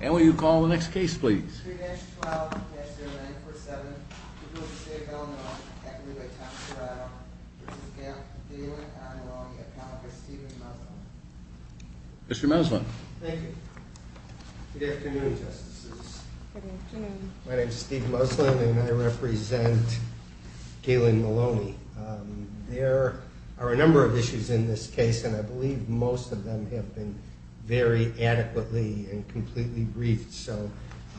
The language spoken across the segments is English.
And will you call the next case, please? Mr. Muslin. Thank you. Good afternoon, Justices. Good afternoon. My name is Steve Muslin, and I represent Galen Maloney. There are a number of issues in this case, and I believe most of them have been very adequately and completely briefed. So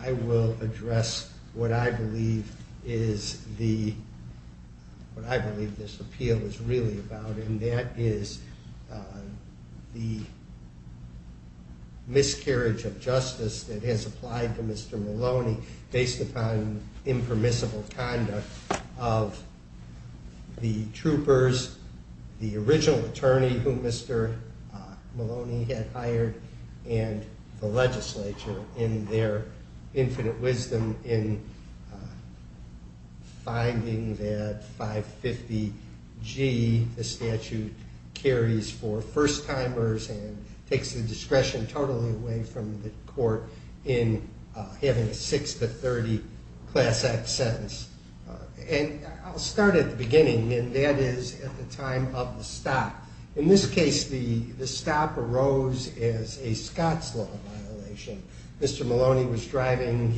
I will address what I believe this appeal is really about, and that is the miscarriage of justice that has applied to Mr. Maloney based upon impermissible conduct of the troopers, the original attorney whom Mr. Maloney had hired, and the legislature in their infinite wisdom in finding that 550G, the statute carries for first-timers and takes the discretion totally away from the court in having a 6-30 Class Act sentence. And I'll start at the beginning, and that is at the time of the stop. In this case, the stop arose as a Scots law violation. Mr. Maloney was driving.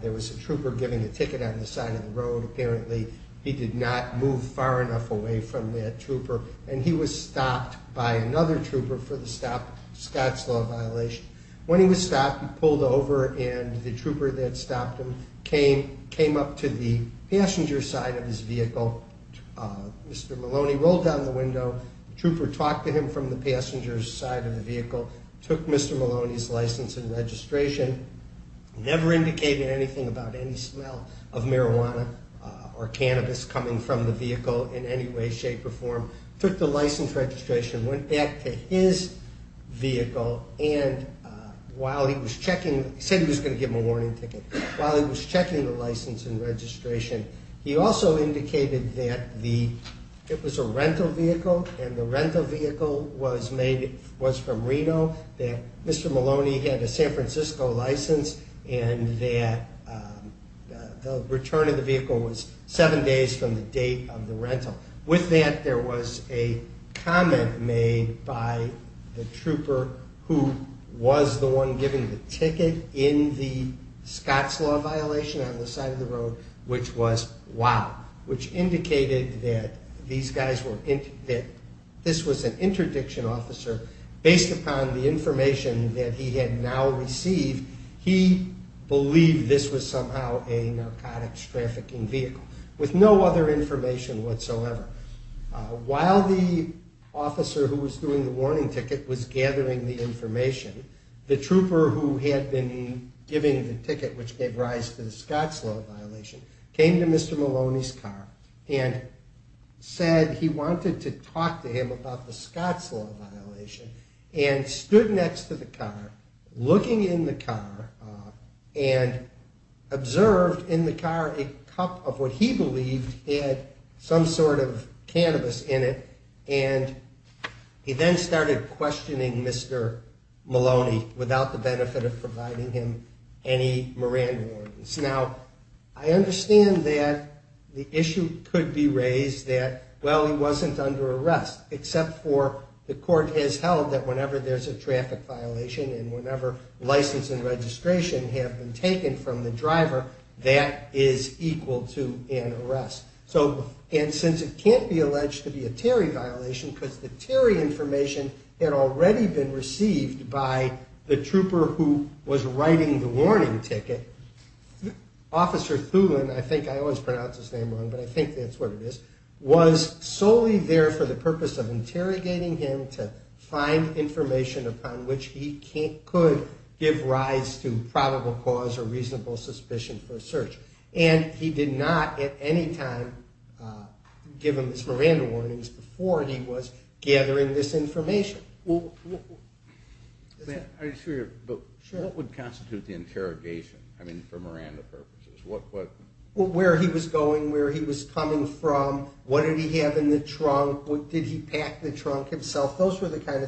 There was a trooper giving a ticket on the side of the road, apparently. He did not move far enough away from that trooper, and he was stopped by another trooper for the stop, Scots law violation. When he was stopped, he pulled over, and the trooper that stopped him came up to the passenger side of his vehicle. Mr. Maloney rolled down the window. The trooper talked to him from the passenger side of the vehicle, took Mr. Maloney's license and registration, never indicated anything about any smell of marijuana or cannabis coming from the vehicle in any way, shape, or form, took the license and registration, went back to his vehicle, and while he was checking, he said he was going to give him a warning ticket. While he was checking the license and registration, he also indicated that it was a rental vehicle, and the rental vehicle was from Reno, that Mr. Maloney had a San Francisco license, and that the return of the vehicle was seven days from the date of the rental. With that, there was a comment made by the trooper who was the one giving the ticket in the Scots law violation on the side of the road, which was, wow, which indicated that this was an interdiction officer. Based upon the information that he had now received, he believed this was somehow a narcotics trafficking vehicle, with no other information whatsoever. While the officer who was doing the warning ticket was gathering the information, the trooper who had been giving the ticket, which gave rise to the Scots law violation, came to Mr. Maloney's car and said he wanted to talk to him about the Scots law violation, and stood next to the car, looking in the car, and observed in the car a cup of what he believed had some sort of cannabis in it, and he then started questioning Mr. Maloney without the benefit of providing him any Moran warnings. Now, I understand that the issue could be raised that, well, he wasn't under arrest, except for the court has held that whenever there's a traffic violation, and whenever license and registration have been taken from the driver, that is equal to an arrest. And since it can't be alleged to be a Terry violation, because the Terry information had already been received by the trooper who was writing the warning ticket, Officer Thulin, I think I always pronounce his name wrong, but I think that's what it is, was solely there for the purpose of interrogating him to find information upon which he could give rise to probable cause or reasonable suspicion for a search. And he did not, at any time, give him his Moran warnings before he was gathering this information. Are you sure? Sure. What would constitute the interrogation, I mean, for Moran purposes? Where he was going, where he was coming from, what did he have in the trunk, did he pack the trunk himself? Actually, Thulin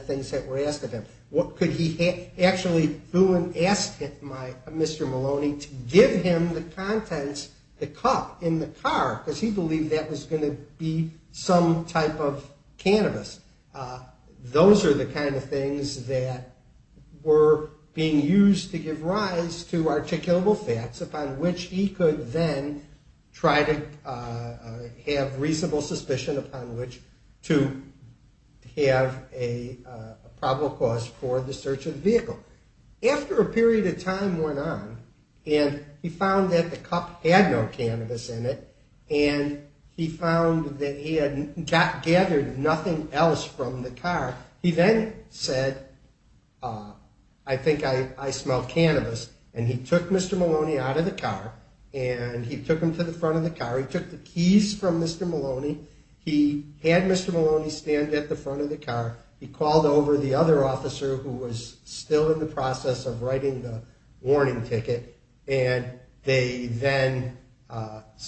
asked Mr. Maloney to give him the contents of the cup in the car, because he believed that was going to be some type of cannabis. Those are the kind of things that were being used to give rise to articulable facts upon which he could then try to have reasonable suspicion upon which to have a probable cause for the search of the vehicle. After a period of time went on, and he found that the cup had no cannabis in it, and he found that he had gathered nothing else from the car, he then said, I think I smell cannabis, and he took Mr. Maloney out of the car, and he took him to the front of the car, he took the keys from Mr. Maloney, he had Mr. Maloney stand at the front of the car, he called over the other officer who was still in the process of writing the warning ticket, and they then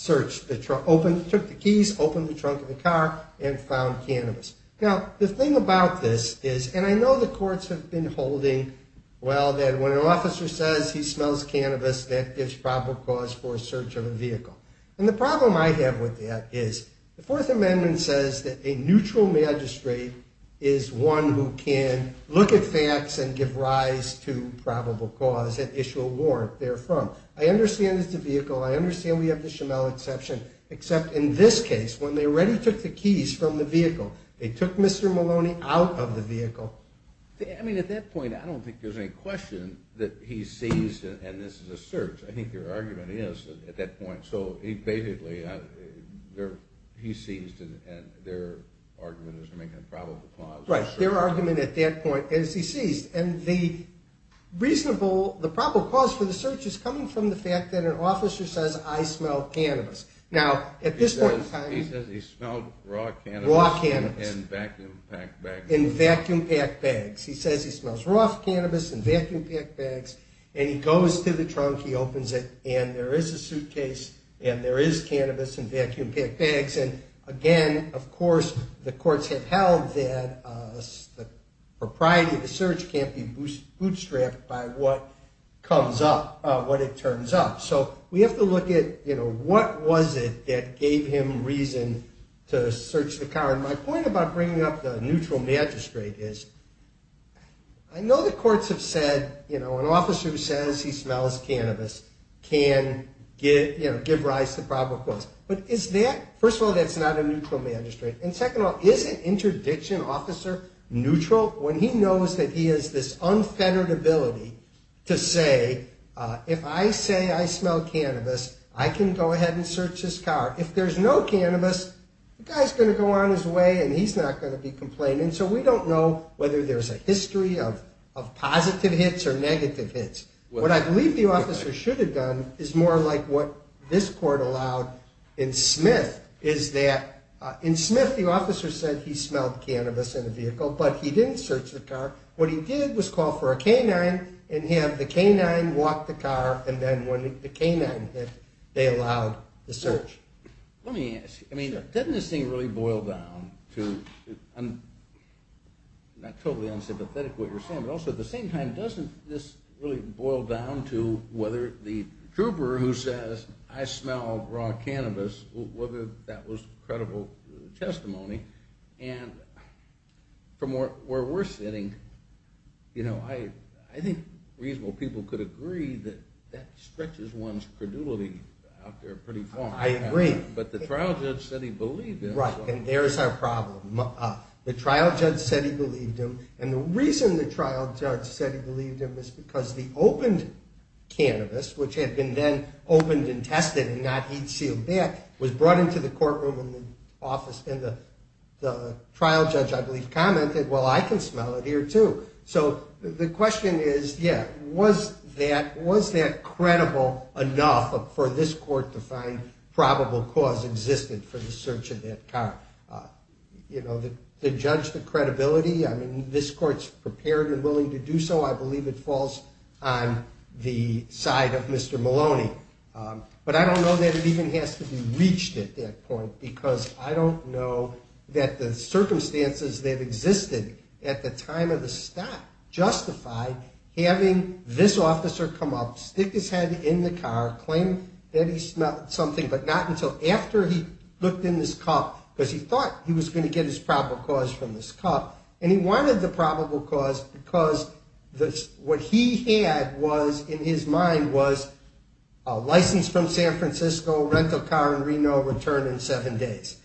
took the keys, opened the trunk of the car, and found cannabis. Now, the thing about this is, and I know the courts have been holding, well, that when an officer says he smells cannabis, that gives probable cause for a search of a vehicle. And the problem I have with that is, the Fourth Amendment says that a neutral magistrate is one who can look at facts and give rise to probable cause and issue a warrant therefrom. I understand it's a vehicle, I understand we have the Schimel exception, except in this case, when they already took the keys from the vehicle, they took Mr. Maloney out of the vehicle. I mean, at that point, I don't think there's any question that he's seized, and this is a search, I think their argument is at that point, so basically, he's seized, and their argument is making a probable cause. Right, their argument at that point is he's seized, and the reasonable, the probable cause for the search is coming from the fact that an officer says, I smell cannabis. Now, at this point in time... He says he smelled raw cannabis in vacuum-packed bags. In vacuum-packed bags. He says he smells raw cannabis in vacuum-packed bags, and he goes to the trunk, he opens it, and there is a suitcase, and there is cannabis in vacuum-packed bags, and again, of course, the courts have held that the propriety of the search can't be bootstrapped by what comes up, what it turns up. So we have to look at, you know, what was it that gave him reason to search the car, and my point about bringing up the neutral magistrate is I know the courts have said, you know, an officer who says he smells cannabis can give rise to probable cause, but is that... First of all, that's not a neutral magistrate, and second of all, is an interdiction officer neutral when he knows that he has this unfettered ability to say, if I say I smell cannabis, I can go ahead and search this car. If there's no cannabis, the guy's going to go on his way and he's not going to be complained, and so we don't know whether there's a history of positive hits or negative hits. What I believe the officer should have done is more like what this court allowed in Smith, is that in Smith, the officer said he smelled cannabis in the vehicle, but he didn't search the car. What he did was call for a canine and have the canine walk the car, and then when the canine hit, they allowed the search. Let me ask you, I mean, doesn't this thing really boil down to... I'm totally unsympathetic to what you're saying, but also at the same time, doesn't this really boil down to whether the trooper who says, I smell raw cannabis, whether that was credible testimony, and from where we're sitting, I think reasonable people could agree that that stretches one's credulity out there pretty far. I agree. But the trial judge said he believed him. Right, and there's our problem. The trial judge said he believed him, and the reason the trial judge said he believed him was brought into the courtroom and the trial judge, I believe, commented, well, I can smell it here, too. So the question is, yeah, was that credible enough for this court to find probable cause existent for the search of that car? You know, the judge, the credibility, I mean, this court's prepared and willing to do so. I believe it falls on the side of Mr. Maloney. But I don't know that it even has to be reached at that point, because I don't know that the circumstances that existed at the time of the stop justified having this officer come up, stick his head in the car, claim that he smelled something, but not until after he looked in this cup, because he thought he was going to get his probable cause from this cup, and he wanted the probable cause because what he had was, in his mind, was a license from San Francisco, rental car in Reno, return in seven days.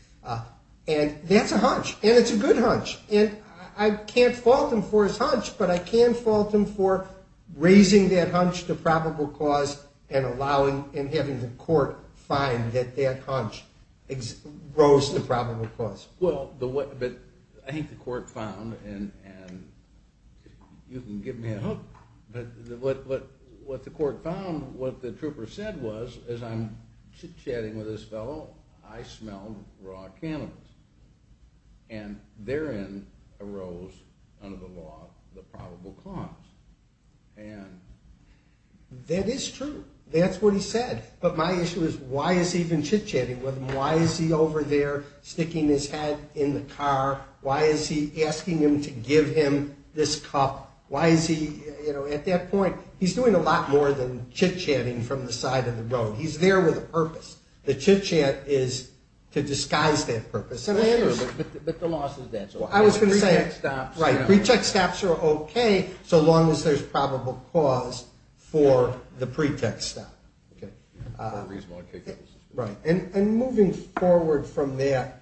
And that's a hunch, and it's a good hunch, and I can't fault him for his hunch, but I can fault him for raising that hunch to probable cause and having the court find that that hunch rose to probable cause. Well, but I think the court found, and you can give me a hook, but what the court found, what the trooper said was, as I'm chit-chatting with this fellow, I smelled raw cannabis. And therein arose, under the law, the probable cause. And that is true. That's what he said. But my issue is, why is he even chit-chatting with him? Why is he over there sticking his head in the car? Why is he asking him to give him this cup? Why is he, you know, at that point, he's doing a lot more than chit-chatting from the side of the road. He's there with a purpose. The chit-chat is to disguise that purpose. But the law says that. I was going to say, right, pretext stops are okay, so long as there's probable cause for the pretext stop. And moving forward from there,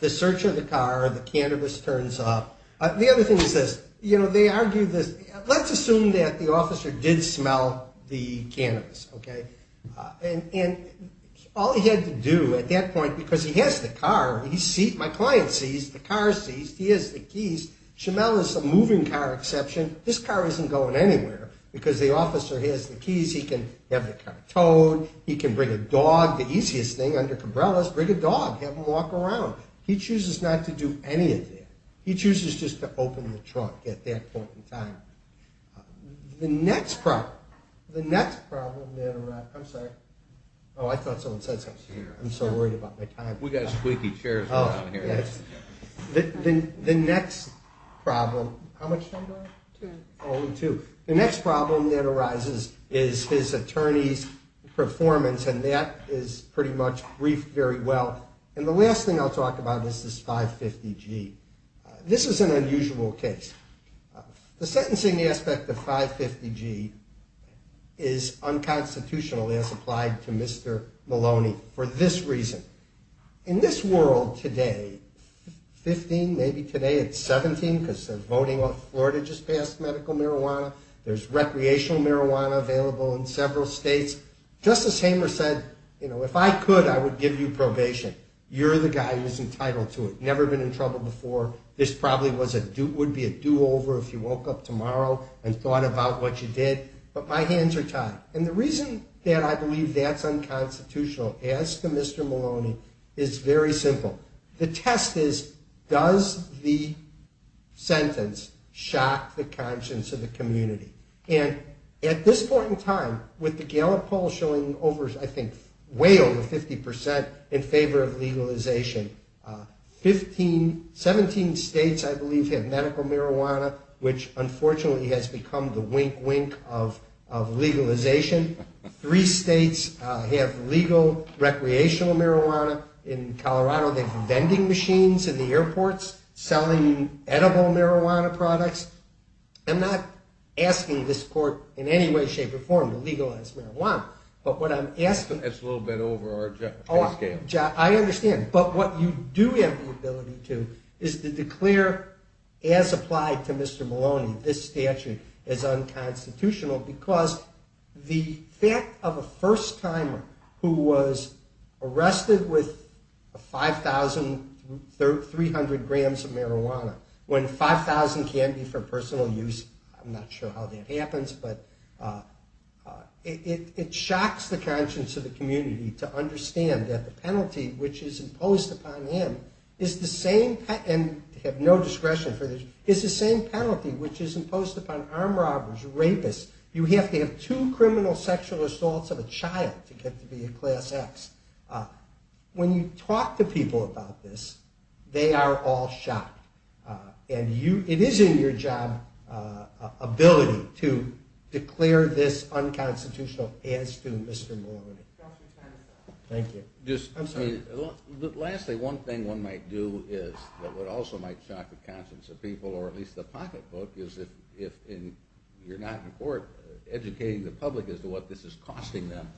the search of the car, the cannabis turns up. The other thing is this. You know, they argue this. Let's assume that the officer did smell the cannabis, okay? And all he had to do at that point, because he has the car, he sees, my client sees, the car sees, he has the keys, Shemelle is a moving car exception, this car isn't going anywhere because the officer has the keys, he can have the car towed, he can bring a dog, the easiest thing under umbrellas, bring a dog, have him walk around. He chooses not to do any of that. He chooses just to open the truck at that point in time. The next problem, the next problem, I'm sorry. Oh, I thought someone said something. I'm so worried about my time. We've got squeaky chairs around here. The next problem, how much time do I have? Two. Only two. The next problem that arises is his attorney's performance, and that is pretty much briefed very well. And the last thing I'll talk about is this 550G. This is an unusual case. The sentencing aspect of 550G is unconstitutional, as applied to Mr. Maloney, for this reason. In this world today, 15, maybe today it's 17, because they're voting off Florida just passed medical marijuana. There's recreational marijuana available in several states. Justice Hamer said, you know, if I could, I would give you probation. You're the guy who's entitled to it. Never been in trouble before. This probably would be a do-over if you woke up tomorrow and thought about what you did. But my hands are tied. And the reason that I believe that's unconstitutional, as to Mr. Maloney, is very simple. The test is, does the sentence shock the conscience of the community? And at this point in time, with the Gallup poll showing, I think, way over 50% in favor of legalization, 17 states, I believe, have medical marijuana, which, unfortunately, has become the wink-wink of legalization. Three states have legal recreational marijuana. In Colorado, they have vending machines in the airports selling edible marijuana products. I'm not asking this court in any way, shape, or form to legalize marijuana. But what I'm asking... That's a little bit over our head scale. I understand. But what you do have the ability to is to declare, as applied to Mr. Maloney, this statute is unconstitutional because the fact of a first-timer who was arrested with 5,300 grams of marijuana, when 5,000 can be for personal use, I'm not sure how that happens, but it shocks the conscience of the community to understand that the penalty which is imposed upon him is the same... And I have no discretion for this. ...is the same penalty which is imposed upon armed robbers, rapists. You have to have two criminal sexual assaults of a child to get to be a class X. When you talk to people about this, they are all shocked. And it is in your job ability to declare this unconstitutional as to Mr. Maloney. Thank you. I'm sorry. Lastly, one thing one might do that also might shock the conscience of people, or at least the pocketbook, is if you're not in court, educating the public as to what this is costing them,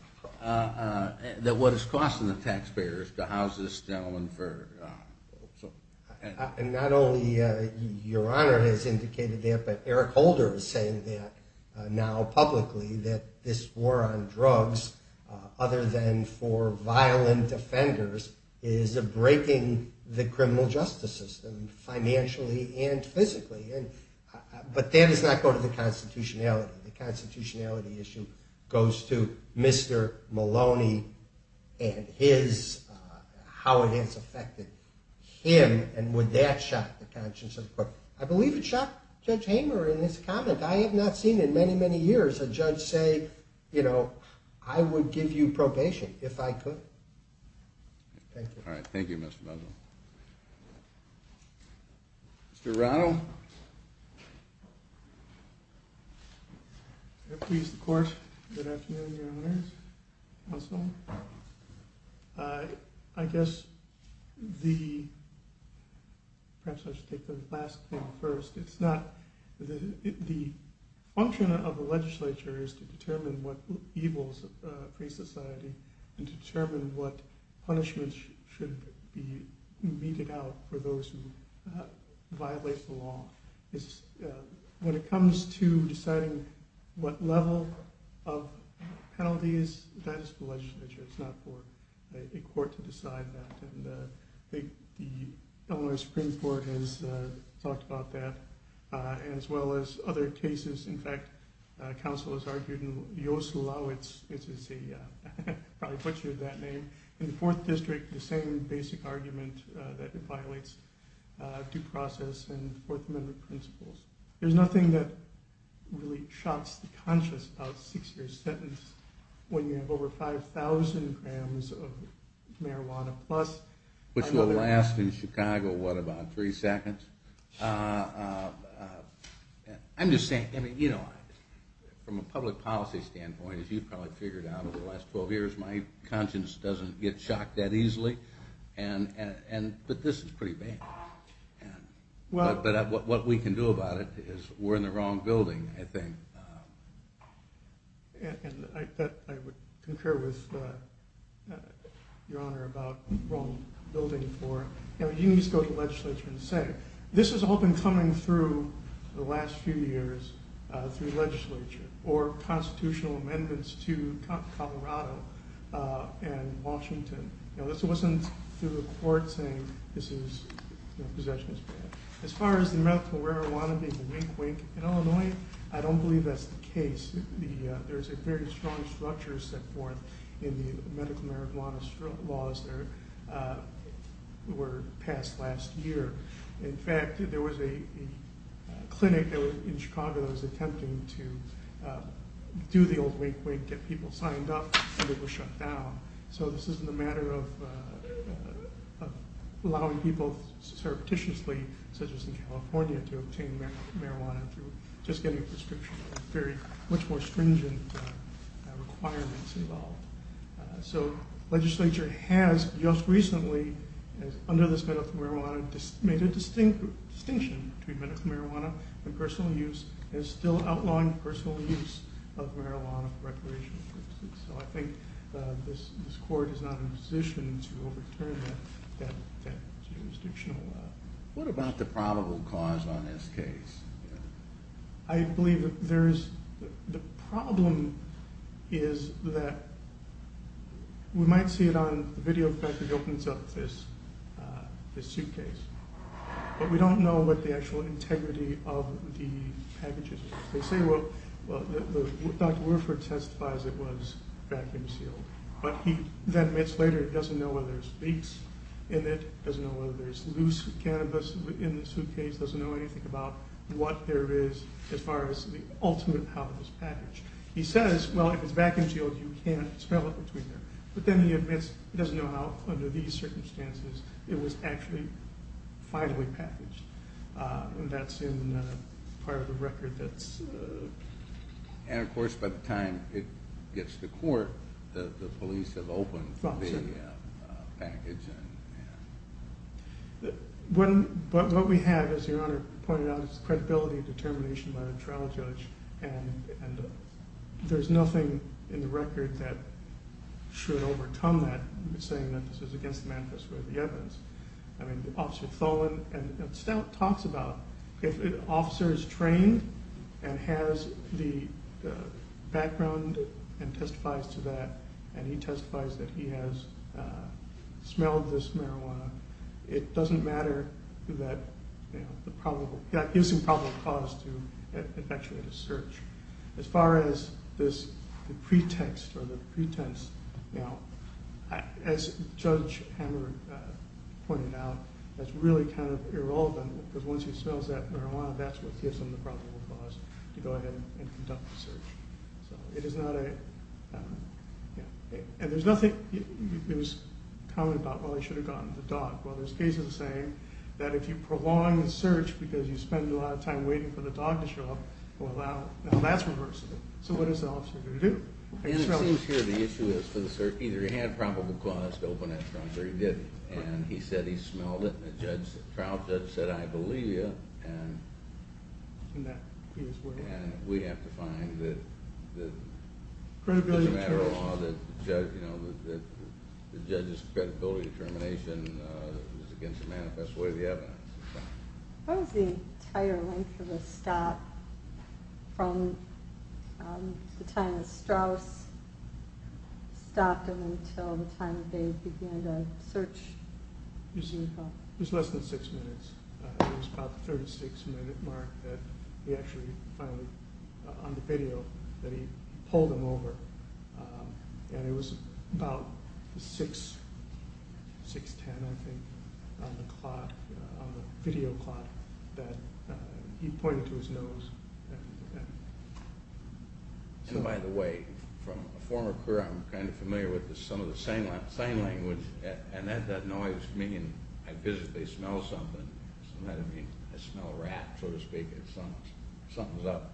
that what it's costing the taxpayers to house this gentleman for... And not only Your Honor has indicated that, but Eric Holder is saying that now publicly that this war on drugs, other than for violent offenders, is breaking the criminal justice system financially and physically. But that does not go to the constitutionality. The constitutionality issue goes to Mr. Maloney and how it has affected him and would that shock the conscience of the court. I believe it shocked Judge Hamer in his comment. I have not seen in many, many years a judge say, you know, I would give you probation if I could. Thank you. All right. Thank you, Mr. Bundle. Mr. Rano. Please, the court. Good afternoon, Your Honors. Counsel. I guess the... Perhaps I should take the last thing first. The function of the legislature is to determine what evils of free society and to determine what punishments should be meted out for those who violate the law. When it comes to deciding what level of penalties, that is the legislature. It's not for a court to decide that. I think the Illinois Supreme Court has talked about that as well as other cases. In fact, counsel has argued in Yoslowitz, which is a... I'll probably butcher that name. In the Fourth District, the same basic argument that it violates due process and Fourth Amendment principles. There's nothing that really shocks the conscience about a six-year sentence when you have over 5,000 grams of marijuana plus... Which will last in Chicago, what, about three seconds? I'm just saying, from a public policy standpoint, as you've probably figured out over the last 12 years, my conscience doesn't get shocked that easily. But this is pretty bad. What we can do about it is we're in the wrong building, I think. And I concur with Your Honor about the wrong building. You need to go to the legislature and say, this has all been coming through the last few years through the legislature or constitutional amendments to Colorado and Washington. This wasn't through the court saying possession is bad. As far as the amount of marijuana being a wink-wink in Illinois, I don't believe that's the case. There's a very strong structure set forth in the medical marijuana laws that were passed last year. In fact, there was a clinic in Chicago that was attempting to do the old wink-wink, get people signed up, and it was shut down. So this isn't a matter of allowing people surreptitiously, such as in California, to obtain marijuana through just getting a prescription. There are much more stringent requirements involved. So legislature has just recently, under this medical marijuana, made a distinction between medical marijuana and personal use and is still outlawing personal use of marijuana for recreational purposes. So I think this court is not in a position to overturn that jurisdictional law. What about the probable cause on this case? I believe the problem is that we might see it on the video if it opens up this suitcase, but we don't know what the actual integrity of the package is. They say, well, Dr. Warford testifies it was vacuum-sealed, but he then admits later he doesn't know whether there's leaks in it, doesn't know whether there's loose cannabis in the suitcase, doesn't know anything about what there is as far as the ultimate how of this package. He says, well, if it's vacuum-sealed, you can't smell it between there. But then he admits he doesn't know how, under these circumstances, it was actually finally packaged. And that's in part of the record. And, of course, by the time it gets to court, the police have opened the package. But what we have, as Your Honor pointed out, is credibility and determination by a trial judge, and there's nothing in the record that should overcome that, saying that this was against the manifesto or the evidence. I mean, Officer Tholen talks about if an officer is trained and has the background and testifies to that, and he testifies that he has smelled this marijuana, it doesn't matter that the probable cause to effectuate a search. As far as this pretext or the pretense, as Judge Hammer pointed out, that's really kind of irrelevant, because once he smells that marijuana, that's what gives him the probable cause to go ahead and conduct the search. So it is not a... And there's nothing common about, well, he should have gotten the dog. Well, there's cases saying that if you prolong the search because you spend a lot of time waiting for the dog to show up, well, now that's reversible. So what is the officer going to do? And it seems here the issue is for the search, either he had probable cause to open that trunk or he didn't. And he said he smelled it, and the trial judge said, I believe you, and we have to find that it's a matter of law that the judge's credibility determination is against the manifesto or the evidence. What was the entire length of the stop from the time that Strauss stopped him until the time that they began the search? It was less than six minutes. It was about the 36-minute mark that he actually finally, on the video, that he pulled him over. And it was about 6, 6.10, I think, on the clock, on the video clock that he pointed to his nose. And by the way, from a former career, I'm kind of familiar with some of the sign language, and that noise meaning I visibly smell something. It doesn't mean I smell a rat, so to speak. It's something's up.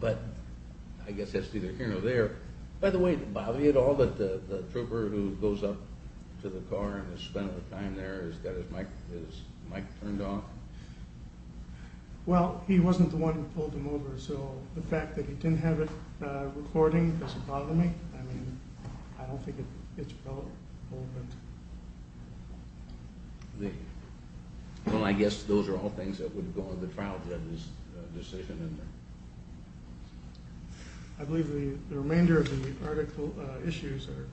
But I guess that's either here or there. By the way, did it bother you at all that the trooper who goes up to the car and is spending the time there has got his mic turned off? Well, he wasn't the one who pulled him over, so the fact that he didn't have it recording doesn't bother me. I mean, I don't think it's a problem. Well, I guess those are all things that would go on the trial judge's... decision in there. I believe the remainder of the article issues are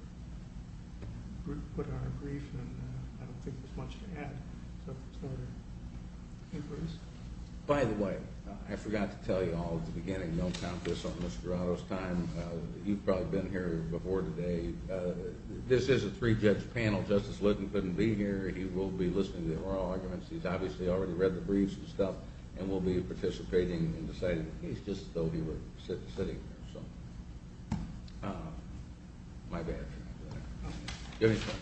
put on a brief, and I don't think there's much to add. By the way, I forgot to tell you all at the beginning, don't count this on Mr. Otto's time. You've probably been here before today. This is a three-judge panel. Justice Litton couldn't be here. He will be listening to the oral arguments. He's obviously already read the briefs and stuff, and will be participating in deciding. He's just as though he were sitting there. My bad. Do you have any questions?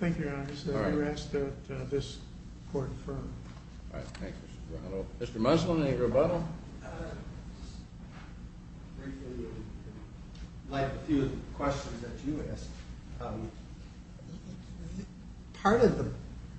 Thank you, Your Honor. You were asked at this important forum. All right, thank you, Mr. Brown. Mr. Musselman, any rebuttal? Briefly, I'd like a few questions that you asked. Part of the...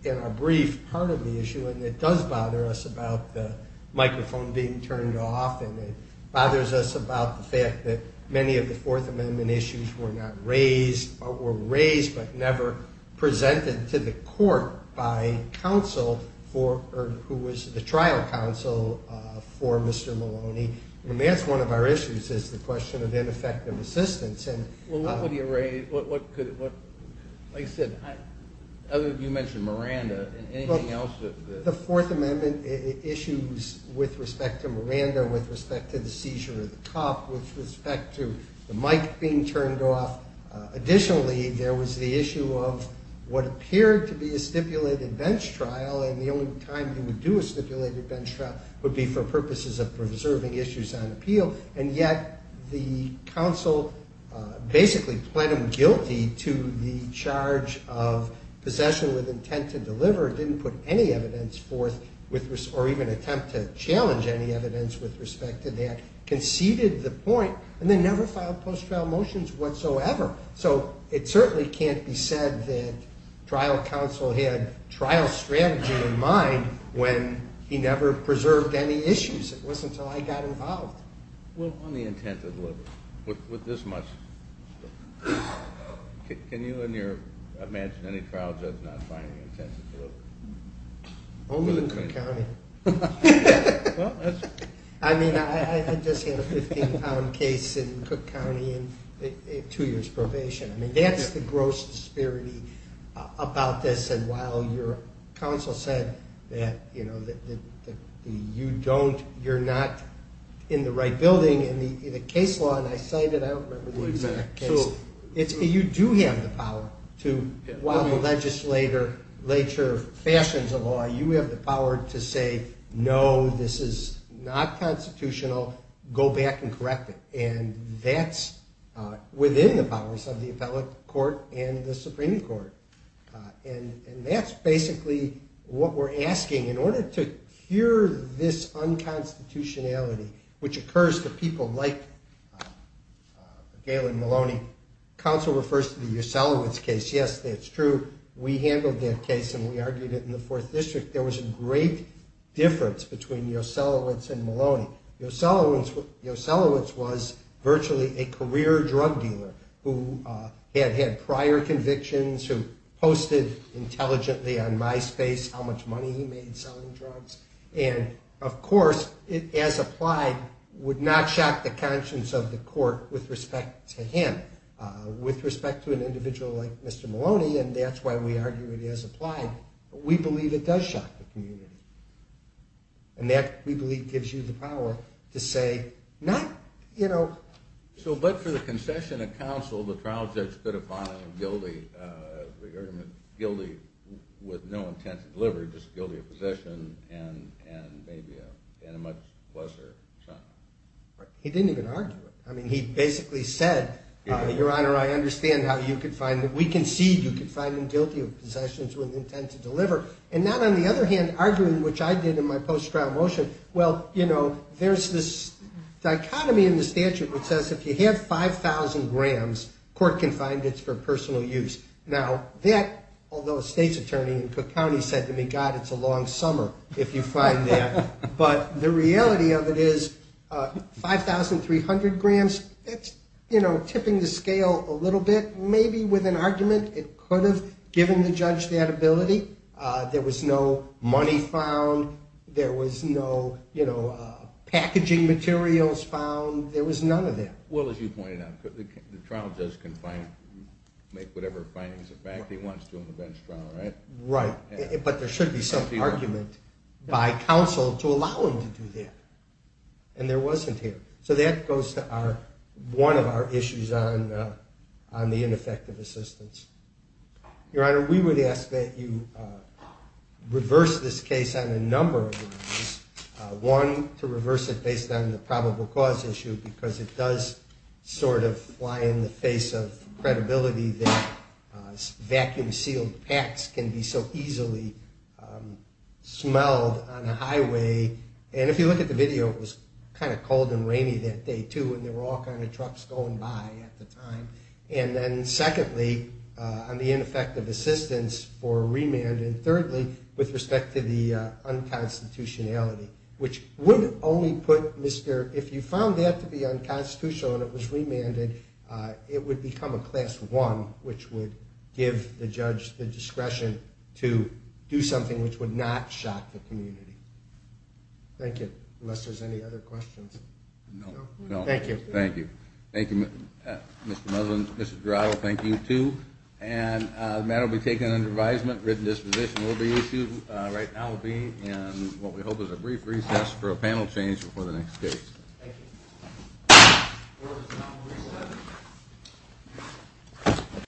In our brief, part of the issue, and it does bother us about the microphone being turned off, and it bothers us about the fact that many of the Fourth Amendment issues were not raised, or were raised but never presented to the court by counsel for... or who was the trial counsel for Mr. Maloney. I mean, that's one of our issues, is the question of ineffective assistance. Well, what would he have raised? Like I said, other than you mentioned Miranda, anything else that... The Fourth Amendment issues with respect to Miranda, with respect to the seizure of the cup, with respect to the mic being turned off. Additionally, there was the issue of what appeared to be a stipulated bench trial, and the only time he would do a stipulated bench trial would be for purposes of preserving issues on appeal. And yet the counsel basically pled him guilty to the charge of possession with intent to deliver, didn't put any evidence forth, or even attempt to challenge any evidence with respect to that, conceded the point, and then never filed post-trial motions whatsoever. So it certainly can't be said that trial counsel had trial strategy in mind when he never preserved any issues. It wasn't until I got involved. Well, on the intent to deliver, with this much... Can you imagine any trial judge not filing the intent to deliver? Only in Cook County. Well, that's... I mean, I just had a 15-pound case in Cook County in two years' probation. I mean, that's the gross disparity about this, and while your counsel said that, you know, that you don't... You're not in the right building in the case law, and I cite it, I don't remember the exact case. You do have the power to... While the legislature fashions a law, you have the power to say, no, this is not constitutional, go back and correct it. And that's within the powers of the appellate court and the Supreme Court. And that's basically what we're asking. In order to cure this unconstitutionality, which occurs to people like Galen Maloney, counsel refers to the Yoselowitz case. Yes, that's true. We handled that case, and we argued it in the 4th District. There was a great difference between Yoselowitz and Maloney. Yoselowitz was virtually a career drug dealer who had had prior convictions, who posted intelligently on MySpace how much money he made selling drugs. And, of course, it, as applied, would not shock the conscience of the court with respect to him. With respect to an individual like Mr. Maloney, and that's why we argue it as applied, we believe it does shock the community. And that, we believe, gives you the power to say, not, you know... So, but for the concession of counsel, the trial judge could have filed a guilty... He didn't even argue it. I mean, he basically said, Your Honor, I understand how you could find... We concede you could find him guilty of possessions with intent to deliver. And not, on the other hand, arguing, which I did in my post-trial motion, well, you know, there's this dichotomy in the statute that says if you have 5,000 grams, court can find it for personal use. Now, that, although a state's attorney in Cook County said to me, you know, God, it's a long summer if you find that. But the reality of it is, 5,300 grams, it's, you know, tipping the scale a little bit. Maybe with an argument, it could have given the judge that ability. There was no money found. There was no, you know, packaging materials found. There was none of that. Well, as you pointed out, the trial judge can find... make whatever findings of fact he wants to in the bench trial, right? Right. But there should be some argument by counsel to allow him to do that. And there wasn't here. So that goes to our... one of our issues on the ineffective assistance. Your Honor, we would ask that you reverse this case on a number of issues. One, to reverse it based on the probable cause issue, because it does sort of fly in the face of credibility that vacuum-sealed packs can be so easily smelled on a highway. And if you look at the video, it was kind of cold and rainy that day, too, and there were all kind of trucks going by at the time. And then secondly, on the ineffective assistance for remand. And thirdly, with respect to the unconstitutionality, which would only put Mr... If you found that to be unconstitutional and it was remanded, it would become a Class I, which would give the judge the discretion to do something which would not shock the community. Thank you. Unless there's any other questions. No. Thank you. Thank you. Thank you, Mr. Muzzlin. Mr. Durato, thank you, too. And the matter will be taken under advisement. Written disposition will be issued. Right now will be in what we hope is a brief recess for a panel change before the next case. Thank you. Thank you.